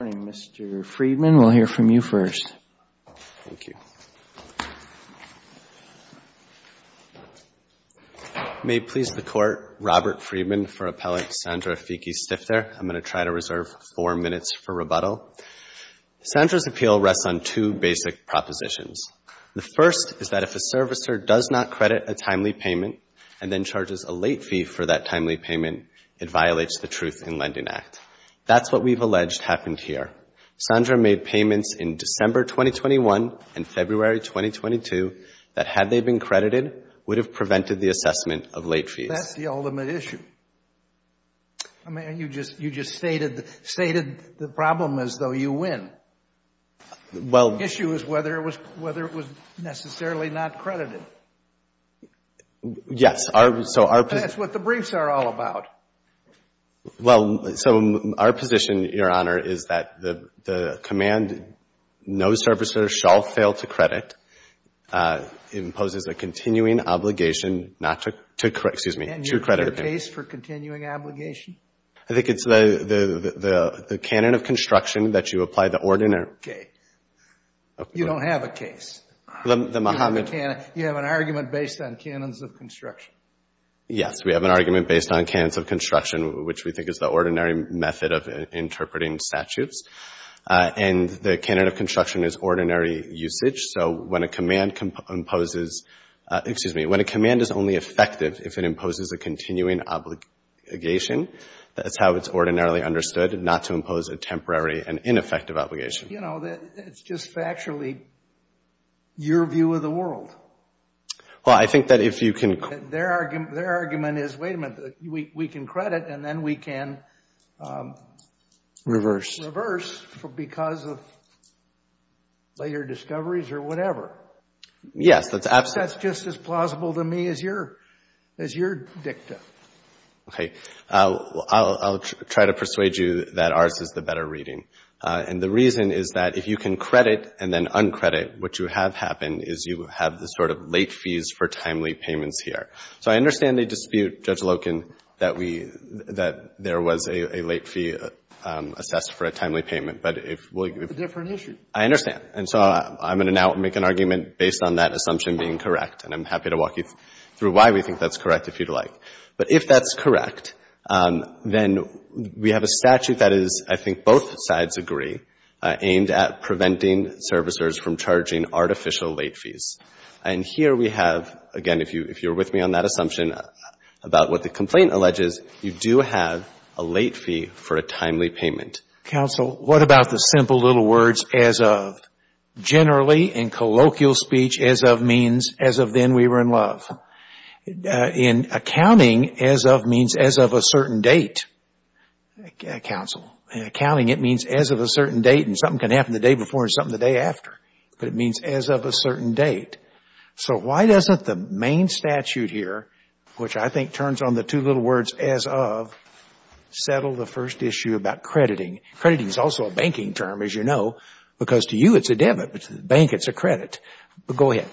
Mr. Friedman, we'll hear from you first. May it please the Court, Robert Friedman for Appellant Sandra Fiecke-Stifter. I'm going to try to reserve four minutes for rebuttal. Sandra's appeal rests on two basic propositions. The first is that if a servicer does not credit a timely payment and then charges a late fee for that timely payment, it violates the Truth in Lending Act. That's what we've alleged happened here. Sandra made payments in December 2021 and February 2022 that, had they been credited, would have prevented the assessment of late fees. That's the ultimate issue. I mean, you just stated the problem as though you win. The issue is whether it was necessarily not credited. Yes. That's what the briefs are all about. Well, so our position, Your Honor, is that the command, no servicer shall fail to credit, imposes a continuing obligation not to credit a payment. And you have a case for continuing obligation? I think it's the canon of construction that you apply the ordinary. Okay. You don't have a case. You have an argument based on canons of construction. Yes. We have an argument based on canons of construction, which we think is the ordinary method of interpreting statutes. And the canon of construction is ordinary usage. So when a command imposes — excuse me. When a command is only effective if it imposes a continuing obligation, that's how it's ordinarily understood, not to impose a temporary and ineffective obligation. You know, that's just factually your view of the world. Well, I think that if you can — Their argument is, wait a minute, we can credit and then we can reverse because of later discoveries or whatever. Yes, that's absolutely — That's just as plausible to me as your dicta. Okay. I'll try to persuade you that ours is the better reading. And the reason is that if you can credit and then uncredit, what you have happen is you have the sort of late fees for timely payments here. So I understand the dispute, Judge Loken, that we — that there was a late fee assessed for a timely payment. But if we — It's a different issue. I understand. And so I'm going to now make an argument based on that assumption being correct. And I'm happy to walk you through why we think that's correct if you'd like. But if that's correct, then we have a statute that is, I think, both sides agree, aimed at preventing servicers from charging artificial late fees. And here we have, again, if you're with me on that assumption about what the complaint alleges, you do have a late fee for a timely payment. Counsel, what about the simple little words, as of? Generally, in colloquial speech, as of means as of then we were in love. In accounting, as of means as of a certain date, Counsel. In accounting, it means as of a certain date and something can happen the day before and something the day after. But it means as of a certain date. So why doesn't the main statute here, which I think turns on the two little words, as of, settle the first issue about crediting? Crediting is also a banking term, as you know, because to you it's a debit, but to the bank it's a credit. But go ahead.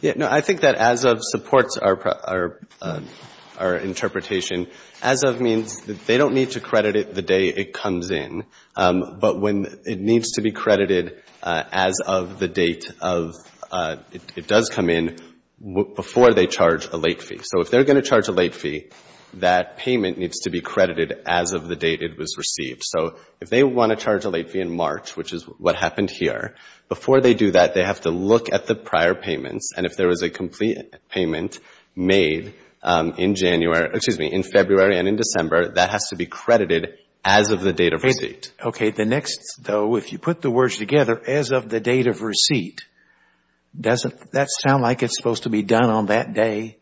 Yeah, no, I think that as of supports our interpretation. As of means they don't need to credit it the day it comes in. But when it needs to be credited as of the date of it does come in before they charge a late fee. So if they're going to charge a late fee, that payment needs to be credited as of the date it was received. So if they want to charge a late fee in March, which is what happened here, before they do that, they have to look at the prior payments. And if there was a complete payment made in January, excuse me, in February and in December, that has to be credited as of the date of receipt. Okay. The next, though, if you put the words together, as of the date of receipt, doesn't that sound like it's supposed to be done on that day?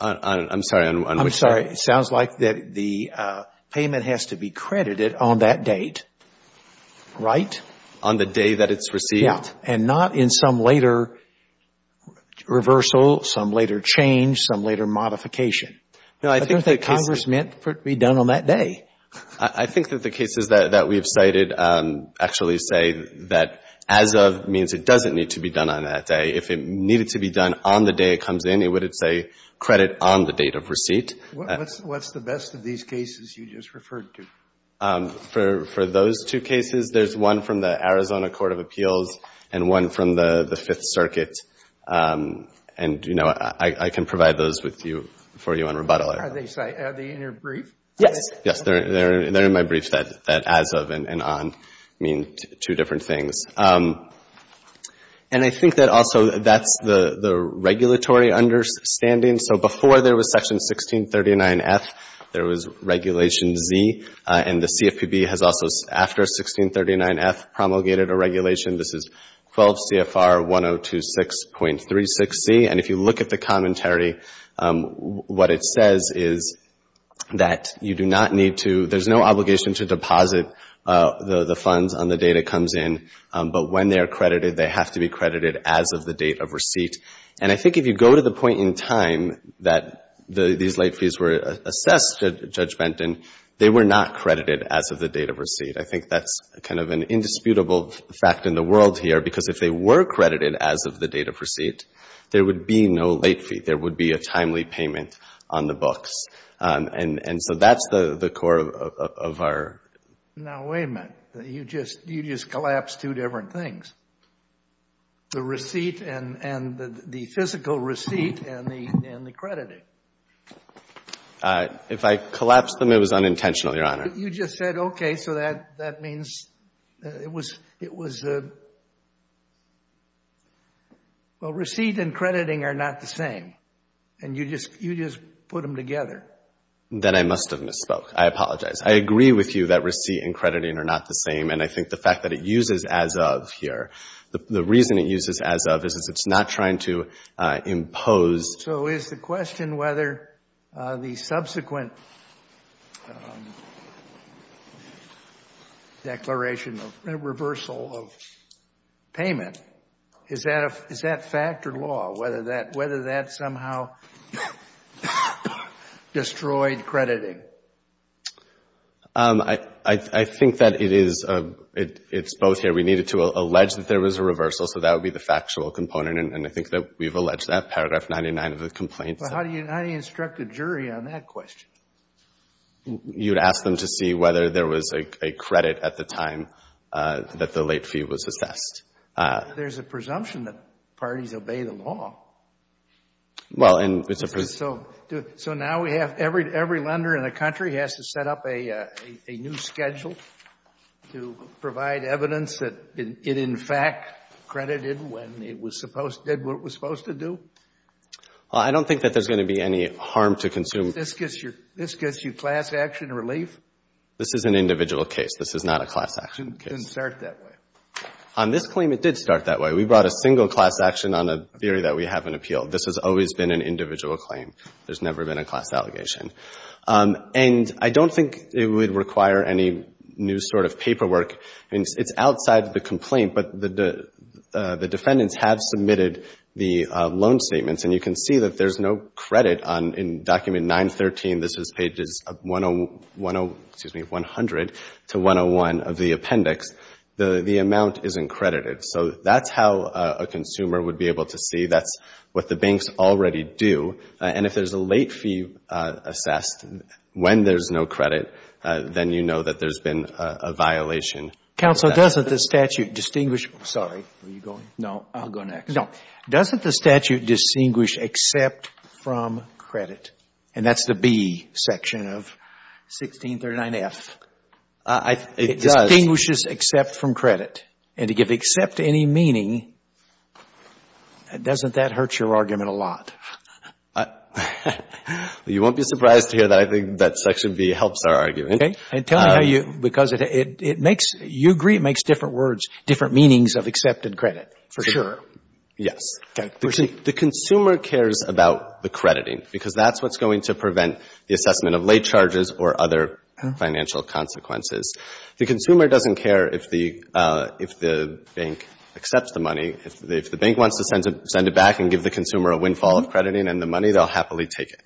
I'm sorry. I'm sorry. It sounds like the payment has to be credited on that date. Right? On the day that it's received? And not in some later reversal, some later change, some later modification. No, I think the case is that Congress meant for it to be done on that day. I think that the cases that we've cited actually say that as of means it doesn't need to be done on that day. If it needed to be done on the day it comes in, it would say credit on the date of receipt. What's the best of these cases you just referred to? For those two cases, there's one from the Arizona Court of Appeals and one from the Fifth Circuit. And, you know, I can provide those for you on rebuttal. Are they in your brief? Yes. Yes, they're in my brief that as of and on mean two different things. And I think that also that's the regulatory understanding. So before there was Section 1639F, there was Regulation Z. And the CFPB has also, after 1639F, promulgated a regulation. This is 12 CFR 1026.36Z. And if you look at the commentary, what it says is that you do not need to, there's no obligation to deposit the funds on the date it comes in. But when they are credited, they have to be credited as of the date of receipt. And I think if you go to the point in time that these late fees were assessed, Judge Benton, they were not credited as of the date of receipt. I think that's kind of an indisputable fact in the world here because if they were credited as of the date of receipt, there would be no late fee. There would be a timely payment on the books. And so that's the core of our. Now, wait a minute. You just collapsed two different things. The receipt and the physical receipt and the crediting. If I collapsed them, it was unintentional, Your Honor. You just said, okay, so that means it was. Well, receipt and crediting are not the same. And you just put them together. Then I must have misspoke. I apologize. I agree with you that receipt and crediting are not the same. And I think the fact that it uses as of here, the reason it uses as of is it's not trying to impose. So is the question whether the subsequent declaration of reversal of payment, is that fact or law, whether that somehow destroyed crediting? I think that it's both here. We needed to allege that there was a reversal, so that would be the factual component. And I think that we've alleged that, paragraph 99 of the complaint. But how do you instruct a jury on that question? You'd ask them to see whether there was a credit at the time that the late fee was assessed. There's a presumption that parties obey the law. Well, and it's a presumption. So now every lender in the country has to set up a new schedule to provide evidence that it, in fact, credited when it did what it was supposed to do? Well, I don't think that there's going to be any harm to consumers. This gets you class action relief? This is an individual case. This is not a class action case. It didn't start that way. On this claim, it did start that way. We brought a single class action on a theory that we haven't appealed. This has always been an individual claim. There's never been a class allegation. And I don't think it would require any new sort of paperwork. It's outside the complaint, but the defendants have submitted the loan statements, and you can see that there's no credit in Document 913. This is pages 100 to 101 of the appendix. The amount isn't credited. So that's how a consumer would be able to see. That's what the banks already do. And if there's a late fee assessed when there's no credit, then you know that there's been a violation. Counsel, doesn't the statute distinguish — sorry, were you going? No, I'll go next. No. Doesn't the statute distinguish except from credit? And that's the B section of 1639F. It does. It distinguishes except from credit. And to give except any meaning, doesn't that hurt your argument a lot? You won't be surprised to hear that I think that section B helps our argument. And tell me how you — because it makes — you agree it makes different words, different meanings of excepted credit, for sure. Yes. Okay. Proceed. The consumer cares about the crediting because that's what's going to prevent the assessment of late charges or other financial consequences. The consumer doesn't care if the bank accepts the money. If the bank wants to send it back and give the consumer a windfall of crediting and the money, they'll happily take it.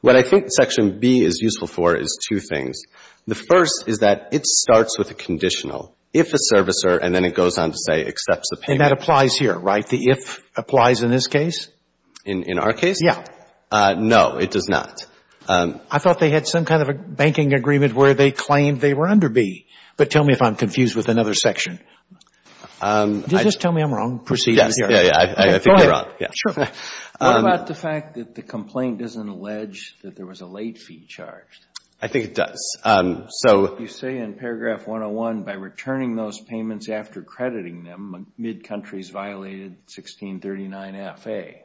What I think section B is useful for is two things. The first is that it starts with a conditional, if a servicer, and then it goes on to say accepts the payment. And that applies here, right? The if applies in this case? In our case? Yeah. No, it does not. I thought they had some kind of a banking agreement where they claimed they were under B. But tell me if I'm confused with another section. Did you just tell me I'm wrong? Yes. I think you're wrong. Sure. What about the fact that the complaint doesn't allege that there was a late fee charged? I think it does. You say in paragraph 101, by returning those payments after crediting them, mid-country's violated 1639FA.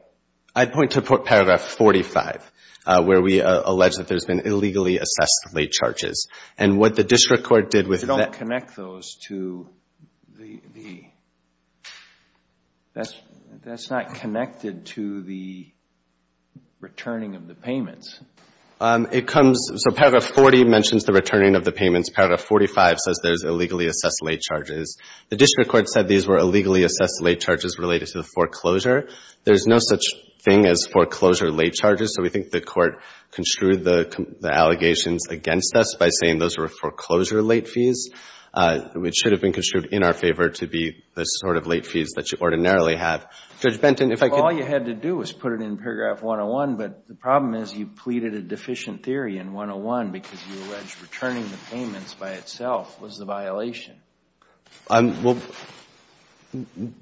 I'd point to paragraph 45 where we allege that there's been illegally assessed late charges. And what the district court did with that — that's not connected to the returning of the payments. It comes — so paragraph 40 mentions the returning of the payments. Paragraph 45 says there's illegally assessed late charges. The district court said these were illegally assessed late charges related to the foreclosure. There's no such thing as foreclosure late charges, so we think the court construed the allegations against us by saying those were foreclosure late fees, which should have been construed in our favor to be the sort of late fees that you ordinarily have. Judge Benton, if I could — All you had to do was put it in paragraph 101, but the problem is you pleaded a deficient theory in 101 because you allege returning the payments by itself was the violation. Well,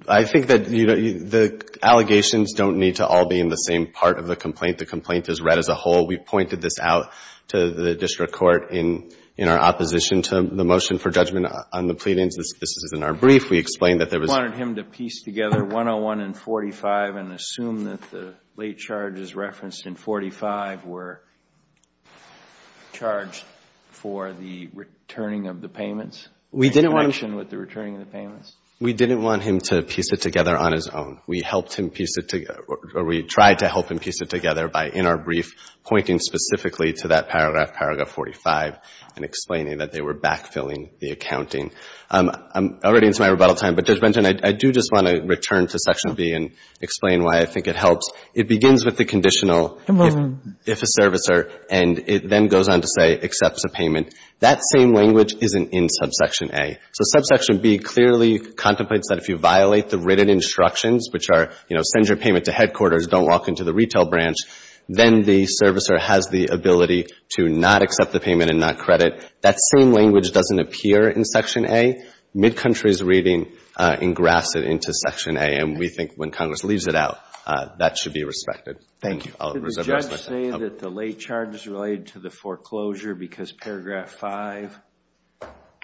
I think that the allegations don't need to all be in the same part of the complaint. The complaint is read as a whole. We pointed this out to the district court in our opposition to the motion for judgment on the pleadings. This is in our brief. We explained that there was — You wanted him to piece together 101 and 45 and assume that the late charges referenced in 45 were charged for the returning of the payments? We didn't want him — In connection with the returning of the payments? We didn't want him to piece it together on his own. We helped him piece it — or we tried to help him piece it together by, in our brief, pointing specifically to that paragraph, paragraph 45, and explaining that they were backfilling the accounting. I'm already into my rebuttal time, but, Judge Benton, I do just want to return to Section B and explain why I think it helps. It begins with the conditional, if a servicer, and it then goes on to say accepts a payment. That same language isn't in Subsection A. So Subsection B clearly contemplates that if you violate the written instructions, which are, you know, send your payment to headquarters, don't walk into the retail branch, then the servicer has the ability to not accept the payment and not credit. That same language doesn't appear in Section A. Midcountry's reading engrafts it into Section A, and we think when Congress leaves it out, that should be respected. Thank you. I'll reserve the rest of my time. Can you say that the late charge is related to the foreclosure because paragraph 5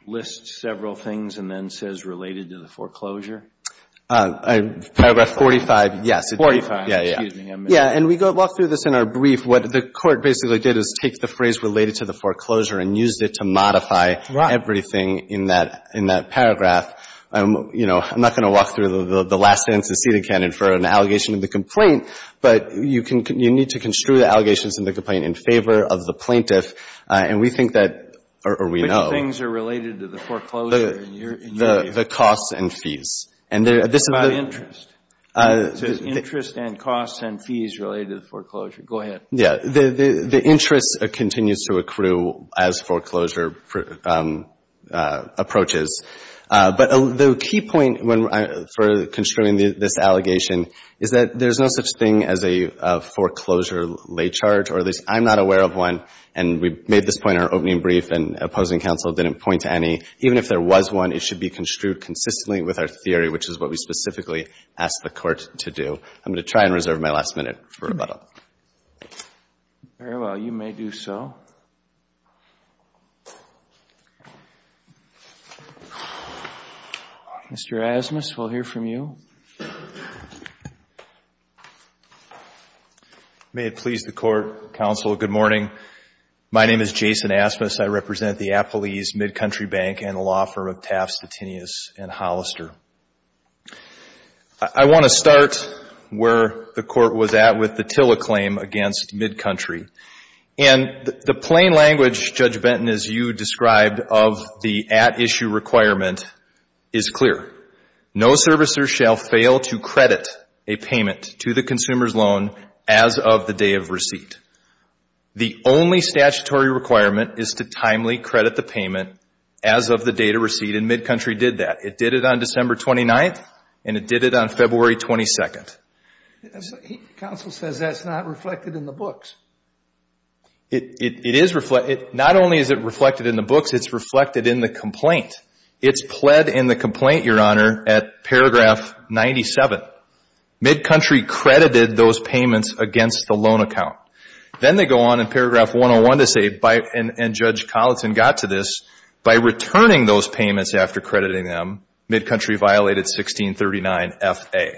lists several things and then says related to the foreclosure? Paragraph 45, yes. Forty-five. Yeah, yeah. Excuse me. Yeah, and we walk through this in our brief. What the Court basically did is take the phrase related to the foreclosure and used it to modify everything in that paragraph. You know, I'm not going to walk through the last sentence. It's a seated candidate for an allegation of the complaint, but you need to construe the allegations in the complaint in favor of the plaintiff. And we think that, or we know. Which things are related to the foreclosure in your view? The costs and fees. About interest. It says interest and costs and fees related to the foreclosure. Go ahead. Yeah. The interest continues to accrue as foreclosure approaches. But the key point for construing this allegation is that there's no such thing as a foreclosure lay charge, or at least I'm not aware of one. And we made this point in our opening brief, and opposing counsel didn't point to any. Even if there was one, it should be construed consistently with our theory, which is what we specifically asked the Court to do. I'm going to try and reserve my last minute for rebuttal. Very well. You may do so. Mr. Asmus, we'll hear from you. May it please the Court, counsel, good morning. My name is Jason Asmus. I represent the Appalese Mid-Country Bank and the law firm of Taft, Stettinius, and Hollister. I want to start where the Court was at with the TILA claim against Mid-Country. And the plain language, Judge Benton, as you described of the at-issue requirement is clear. No servicer shall fail to credit a payment to the consumer's loan as of the day of receipt. The only statutory requirement is to timely credit the payment as of the day to receipt, and Mid-Country did that. It did it on December 29th, and it did it on February 22nd. Counsel says that's not reflected in the books. It is reflected. Not only is it reflected in the books, it's reflected in the complaint. It's pled in the complaint, Your Honor, at paragraph 97. Mid-Country credited those payments against the loan account. Then they go on in paragraph 101 to say, and Judge Colleton got to this, by returning those payments after crediting them, Mid-Country violated 1639FA.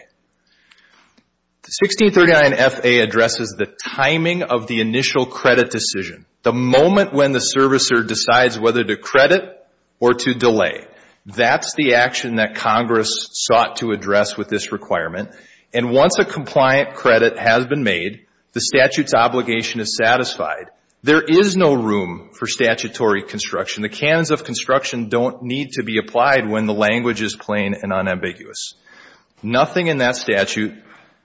1639FA addresses the timing of the initial credit decision, the moment when the servicer decides whether to credit or to delay. That's the action that Congress sought to address with this requirement. And once a compliant credit has been made, the statute's obligation is satisfied. There is no room for statutory construction. The canons of construction don't need to be applied when the language is plain and unambiguous. Nothing in that statute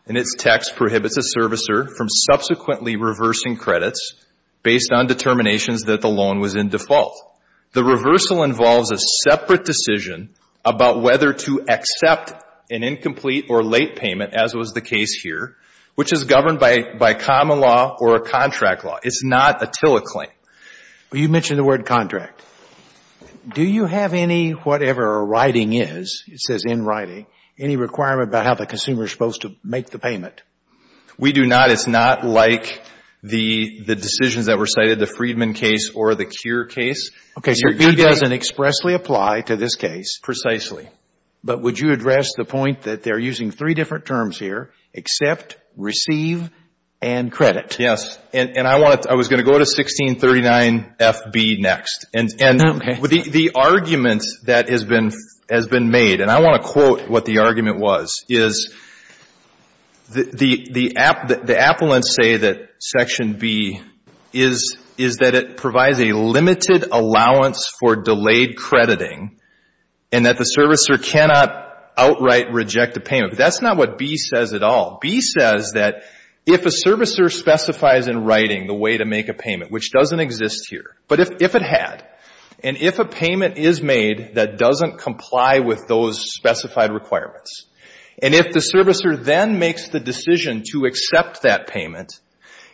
in its text prohibits a servicer from subsequently reversing credits based on determinations that the loan was in default. The reversal involves a separate decision about whether to accept an incomplete or late payment, as was the case here, which is governed by common law or a contract law. It's not a TILA claim. You mentioned the word contract. Do you have any, whatever a writing is, it says in writing, any requirement about how the consumer is supposed to make the payment? We do not. It's not like the decisions that were cited, the Freedman case or the Cure case. Okay. So it doesn't expressly apply to this case. Precisely. But would you address the point that they're using three different terms here, accept, receive, and credit? Yes. And I want to, I was going to go to 1639FB next. Okay. And the argument that has been made, and I want to quote what the argument was, is the appellants say that Section B is that it provides a limited allowance for delayed crediting and that the servicer cannot outright reject a payment. But that's not what B says at all. B says that if a servicer specifies in writing the way to make a payment, which doesn't exist here, but if it had, and if a payment is made that doesn't comply with those specified requirements, and if the servicer then makes the decision to accept that payment,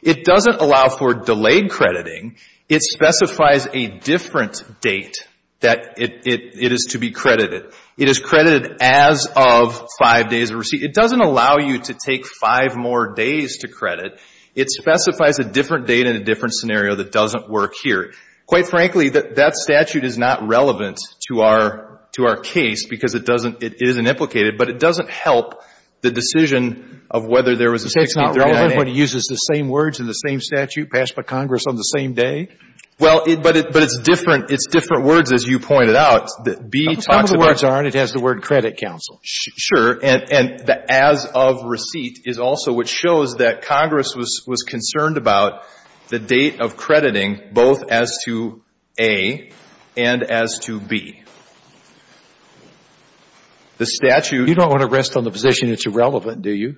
it doesn't allow for delayed crediting. It specifies a different date that it is to be credited. It is credited as of five days of receipt. It doesn't allow you to take five more days to credit. It specifies a different date and a different scenario that doesn't work here. Quite frankly, that statute is not relevant to our case because it doesn't, it isn't implicated, but it doesn't help the decision of whether there was a 1639FB. So it's not relevant when it uses the same words in the same statute passed by Congress on the same day? Well, but it's different. It's different words, as you pointed out, that B talks about. Some of the words aren't. It has the word credit counsel. Sure. And the as of receipt is also what shows that Congress was concerned about the date of crediting both as to A and as to B. The statute — You don't want to rest on the position it's irrelevant, do you?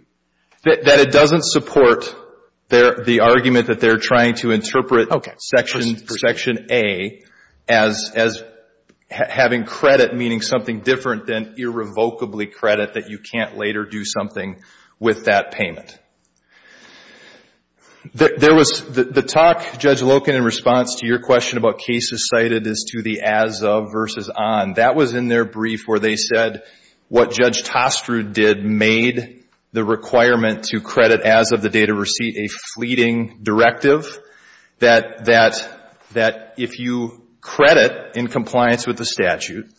That it doesn't support the argument that they're trying to interpret — Okay. Section A as having credit meaning something different than irrevocably credit that you can't later do something with that payment. There was the talk, Judge Loken, in response to your question about cases cited as to the as of versus on. That was in their brief where they said what Judge Tostrud did made the requirement to that if you credit in compliance with the statute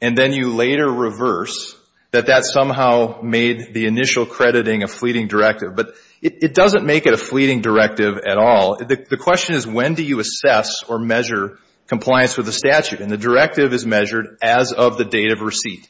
and then you later reverse, that that somehow made the initial crediting a fleeting directive. But it doesn't make it a fleeting directive at all. The question is when do you assess or measure compliance with the statute? And the directive is measured as of the date of receipt.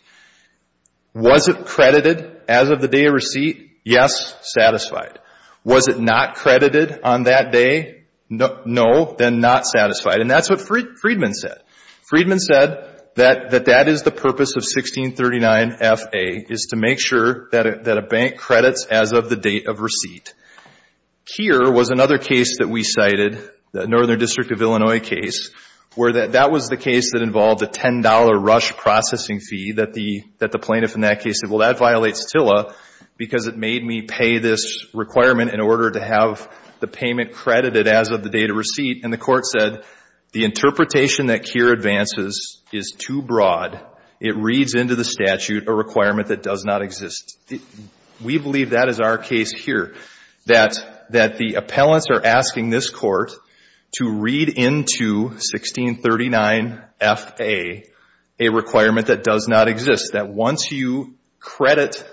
Was it credited as of the date of receipt? Yes. Satisfied. Was it not credited on that day? No. Then not satisfied. And that's what Freedman said. Freedman said that that is the purpose of 1639FA is to make sure that a bank credits as of the date of receipt. Here was another case that we cited, the Northern District of Illinois case, where that was the case that involved a $10 rush processing fee that the plaintiff in that case said, well, that violates TILA because it made me pay this requirement in order to have the credit as of the date of receipt. And the court said the interpretation that here advances is too broad. It reads into the statute a requirement that does not exist. We believe that is our case here, that the appellants are asking this court to read into 1639FA a requirement that does not exist, that once you credit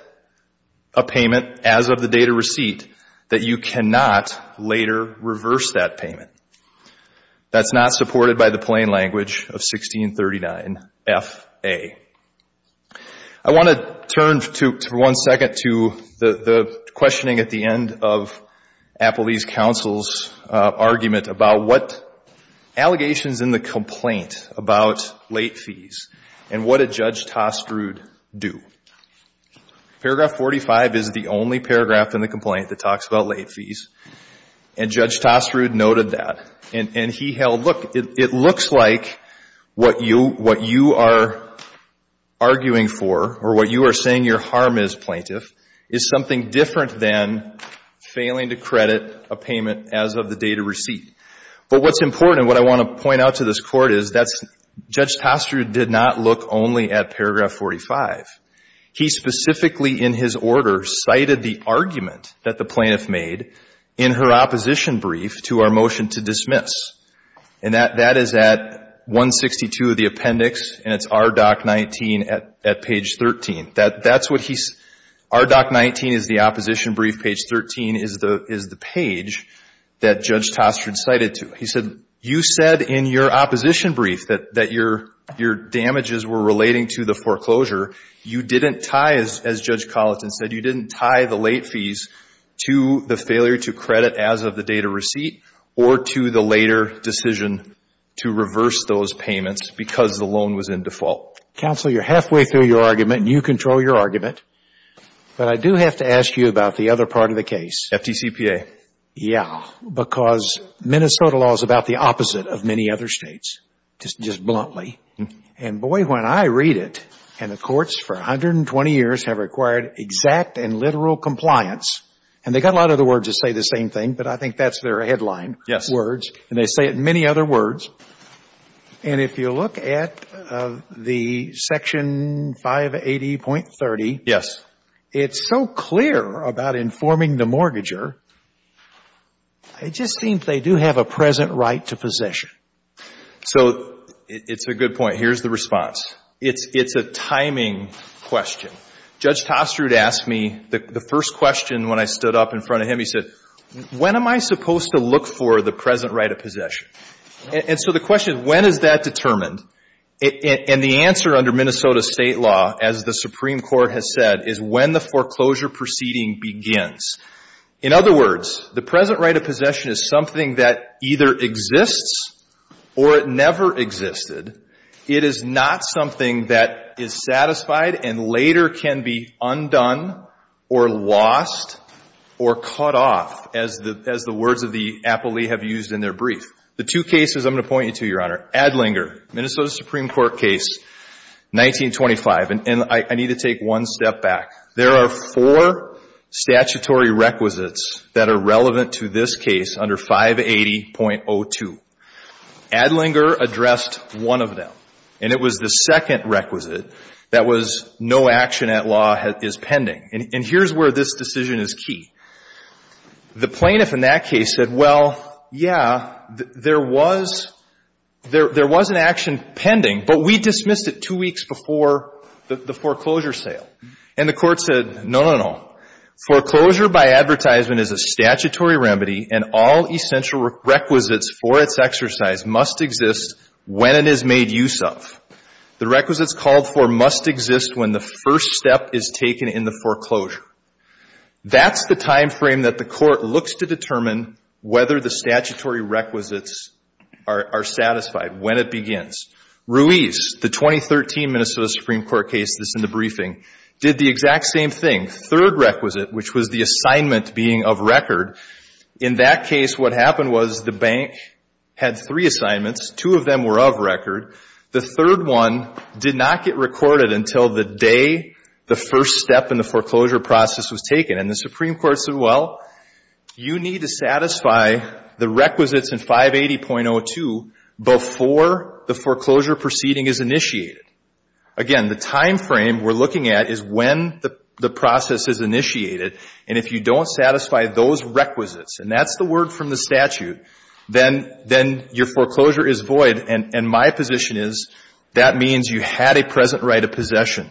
a payment as of the date of receipt, that you cannot later reverse that payment. That's not supported by the plain language of 1639FA. I want to turn for one second to the questioning at the end of Appellee's Counsel's argument about what allegations in the complaint about late fees and what did Judge Tostrud do. Paragraph 45 is the only paragraph in the complaint that talks about late fees, and Judge Tostrud noted that. And he held, look, it looks like what you are arguing for or what you are saying your harm is, plaintiff, is something different than failing to credit a payment as of the date of receipt. But what's important and what I want to point out to this Court is that Judge Tostrud did not look only at paragraph 45. He specifically in his order cited the argument that the plaintiff made in her opposition brief to our motion to dismiss. And that is at 162 of the appendix, and it's R. Doc. 19 at page 13. That's what he's, R. Doc. 19 is the opposition brief, page 13 is the page that Judge Tostrud cited to. He said, you said in your opposition brief that your damages were relating to the foreclosure. You didn't tie, as Judge Colleton said, you didn't tie the late fees to the failure to credit as of the date of receipt or to the later decision to reverse those payments because the loan was in default. Counsel, you're halfway through your argument, and you control your argument. But I do have to ask you about the other part of the case. FDCPA. Yeah, because Minnesota law is about the opposite of many other states, just bluntly. And, boy, when I read it, and the courts for 120 years have required exact and literal compliance, and they've got a lot of other words that say the same thing, but I think that's their headline words, and they say it in many other words. And if you look at the section 580.30, it's so clear about informing the I just think they do have a present right to possession. So it's a good point. Here's the response. It's a timing question. Judge Tostrud asked me the first question when I stood up in front of him. He said, when am I supposed to look for the present right of possession? And so the question is, when is that determined? And the answer under Minnesota State law, as the Supreme Court has said, is when the foreclosure proceeding begins. In other words, the present right of possession is something that either exists or it never existed. It is not something that is satisfied and later can be undone or lost or cut off, as the words of the appellee have used in their brief. The two cases I'm going to point you to, Your Honor, Adlinger, Minnesota Supreme Court case 1925, and I need to take one step back. There are four statutory requisites that are relevant to this case under 580.02. Adlinger addressed one of them, and it was the second requisite that was no action at law is pending. And here's where this decision is key. The plaintiff in that case said, well, yeah, there was an action pending, but we dismissed it two weeks before the foreclosure sale. And the court said, no, no, no. Foreclosure by advertisement is a statutory remedy, and all essential requisites for its exercise must exist when it is made use of. The requisites called for must exist when the first step is taken in the foreclosure. That's the time frame that the court looks to determine whether the statutory requisites are satisfied when it begins. Ruiz, the 2013 Minnesota Supreme Court case that's in the briefing, did the exact same thing. Third requisite, which was the assignment being of record, in that case what happened was the bank had three assignments. Two of them were of record. The third one did not get recorded until the day the first step in the foreclosure process was taken. And the Supreme Court said, well, you need to satisfy the requisites in 580.02 before the foreclosure proceeding is initiated. Again, the time frame we're looking at is when the process is initiated. And if you don't satisfy those requisites, and that's the word from the statute, then your foreclosure is void, and my position is that means you had a present right of possession.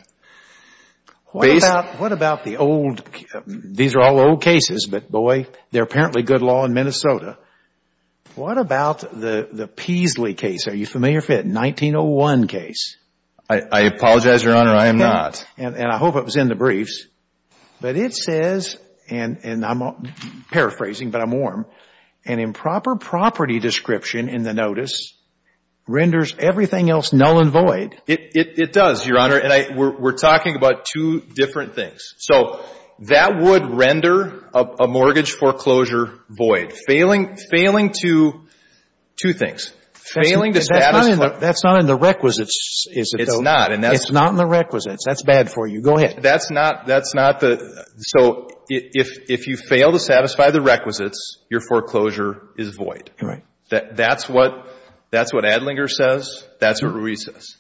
What about the old – these are all old cases, but, boy, they're apparently good law in Minnesota. What about the Peasley case? Are you familiar with it? 1901 case. I apologize, Your Honor, I am not. And I hope it was in the briefs. But it says, and I'm paraphrasing, but I'm warm, an improper property description in the notice renders everything else null and void. It does, Your Honor, and we're talking about two different things. So that would render a mortgage foreclosure void. Failing to – two things. Failing to satisfy. That's not in the requisites, is it, though? It's not. It's not in the requisites. That's bad for you. Go ahead. That's not the – so if you fail to satisfy the requisites, your foreclosure is void. Right. That's what Adlinger says. That's what Ruiz says.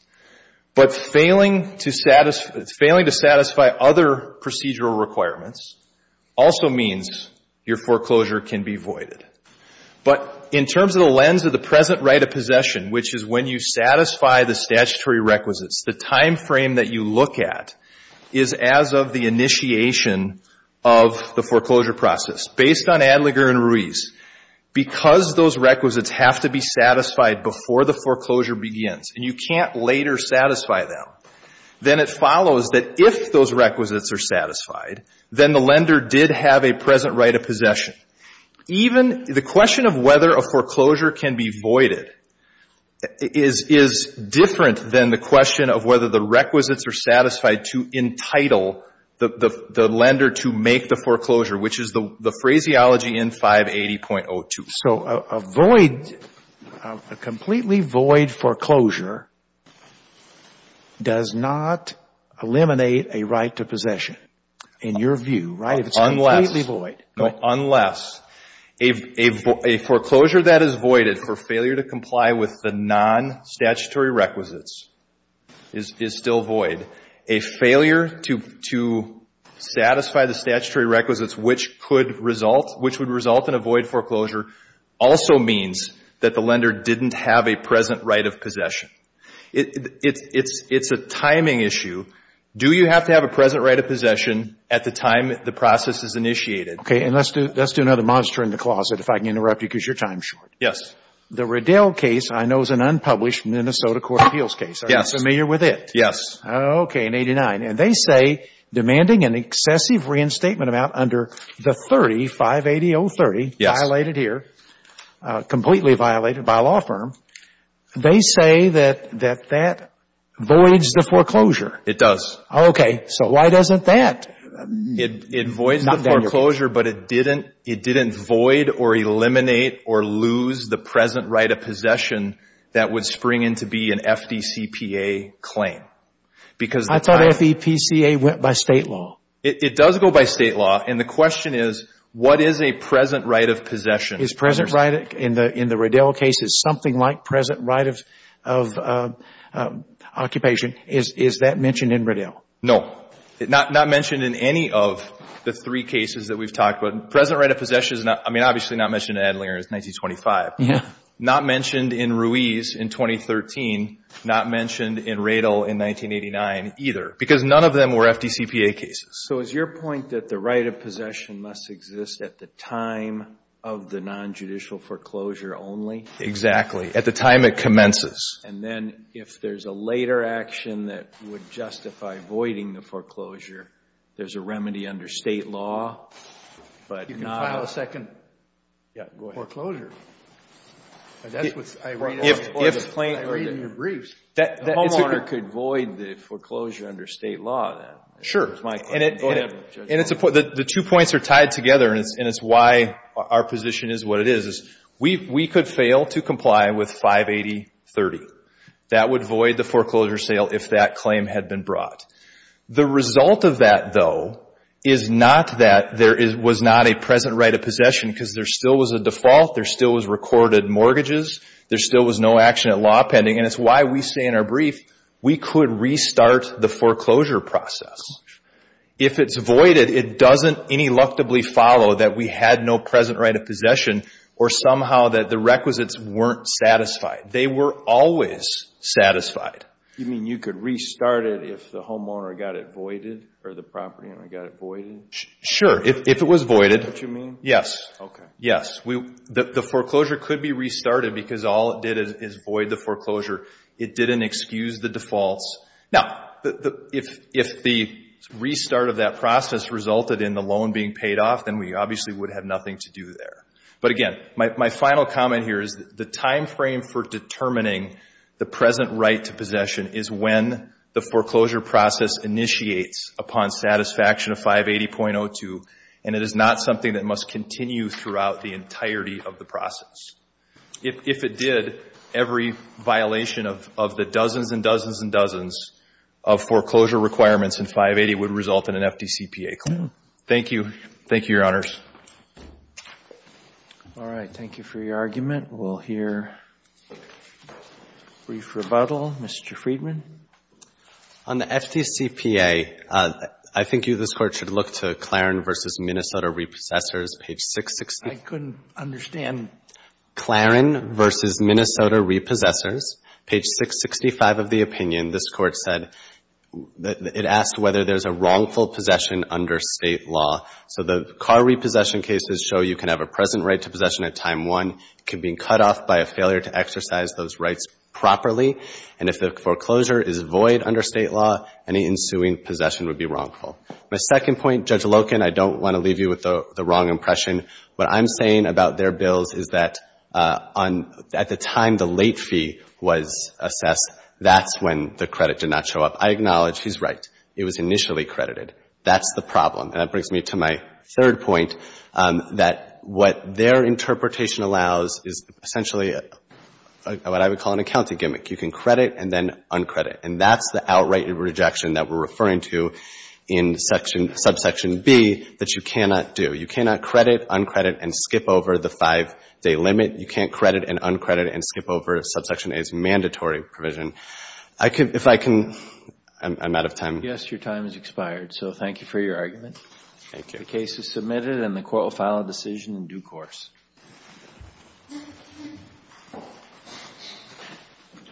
But failing to satisfy other procedural requirements also means your foreclosure can be voided. But in terms of the lens of the present right of possession, which is when you satisfy the statutory requisites, the time frame that you look at is as of the initiation of the foreclosure process. Based on Adlinger and Ruiz, because those requisites have to be satisfied before the foreclosure begins, and you can't later satisfy them, then it follows that if those requisites are satisfied, then the lender did have a present right of possession. Even the question of whether a foreclosure can be voided is different than the question of whether the requisites are satisfied to entitle the lender to make the foreclosure, which is the phraseology in 580.02. So a void, a completely void foreclosure does not eliminate a right to possession in your view, right? Unless. If it's completely void. Unless. A foreclosure that is voided for failure to comply with the non-statutory requisites is still void. A failure to satisfy the statutory requisites, which could result, which would result in a void foreclosure, also means that the lender didn't have a present right of possession. It's a timing issue. Do you have to have a present right of possession at the time the process is Okay. And let's do another monster in the closet, if I can interrupt you because your time is short. Yes. The Riddell case I know is an unpublished Minnesota Court of Appeals case. Yes. Are you familiar with it? Yes. Okay. In 89. And they say demanding an excessive reinstatement amount under the 30, 580-030. Violated here. Completely violated by a law firm. They say that that voids the foreclosure. It does. Okay. So why doesn't that? It voids the foreclosure, but it didn't void or eliminate or lose the present right of possession that would spring in to be an FDCPA claim. I thought FEPCA went by state law. It does go by state law, and the question is what is a present right of possession? Is present right in the Riddell cases something like present right of occupation? Is that mentioned in Riddell? No. Not mentioned in any of the three cases that we've talked about. Present right of possession is not, I mean obviously not mentioned in Adlinger is 1925. Yeah. Not mentioned in Ruiz in 2013. Not mentioned in Riddell in 1989 either. Because none of them were FDCPA cases. So is your point that the right of possession must exist at the time of the nonjudicial foreclosure only? Exactly. At the time it commences. And then if there's a later action that would justify voiding the foreclosure, there's a remedy under state law, but not. You can file a second foreclosure. That's what I read in your briefs. The homeowner could void the foreclosure under state law then. Sure. Go ahead, Judge. And the two points are tied together, and it's why our position is what it is. We could fail to comply with 580.30. That would void the foreclosure sale if that claim had been brought. The result of that, though, is not that there was not a present right of possession because there still was a default, there still was recorded mortgages, there still was no action at law pending. And it's why we say in our brief we could restart the foreclosure process. If it's voided, it doesn't ineluctably follow that we had no present right of possession or somehow that the requisites weren't satisfied. They were always satisfied. You mean you could restart it if the homeowner got it voided or the property owner got it voided? Sure. If it was voided. Is that what you mean? Yes. Okay. Yes. The foreclosure could be restarted because all it did is void the foreclosure. It didn't excuse the defaults. Now, if the restart of that process resulted in the loan being paid off, then we obviously would have nothing to do there. But, again, my final comment here is the timeframe for determining the present right to possession is when the foreclosure process initiates upon satisfaction of 580.02, and it is not something that must continue throughout the entirety of the process. If it did, every violation of the dozens and dozens and dozens of foreclosure requirements in 580 would result in an FDCPA claim. Thank you. Thank you, Your Honors. All right. Thank you for your argument. We'll hear a brief rebuttal. Mr. Friedman? On the FDCPA, I think you, this Court, should look to Clarin v. Minnesota Repossessors, page 660. I couldn't understand. Clarin v. Minnesota Repossessors, page 665 of the opinion. This Court said it asked whether there's a wrongful possession under State law. So the car repossession cases show you can have a present right to possession at time one. It could be cut off by a failure to exercise those rights properly. And if the foreclosure is void under State law, any ensuing possession would be wrongful. My second point, Judge Loken, I don't want to leave you with the wrong impression. What I'm saying about their bills is that at the time the late fee was assessed, that's when the credit did not show up. I acknowledge he's right. It was initially credited. That's the problem. And that brings me to my third point, that what their interpretation allows is essentially what I would call an accounting gimmick. You can credit and then uncredit. And that's the outright rejection that we're referring to in subsection B that you cannot do. You cannot credit, uncredit, and skip over the five-day limit. You can't credit and uncredit and skip over subsection A's mandatory provision. If I can, I'm out of time. Yes, your time has expired. So thank you for your argument. Thank you. The case is submitted and the Court will file a decision in due course. Thank you.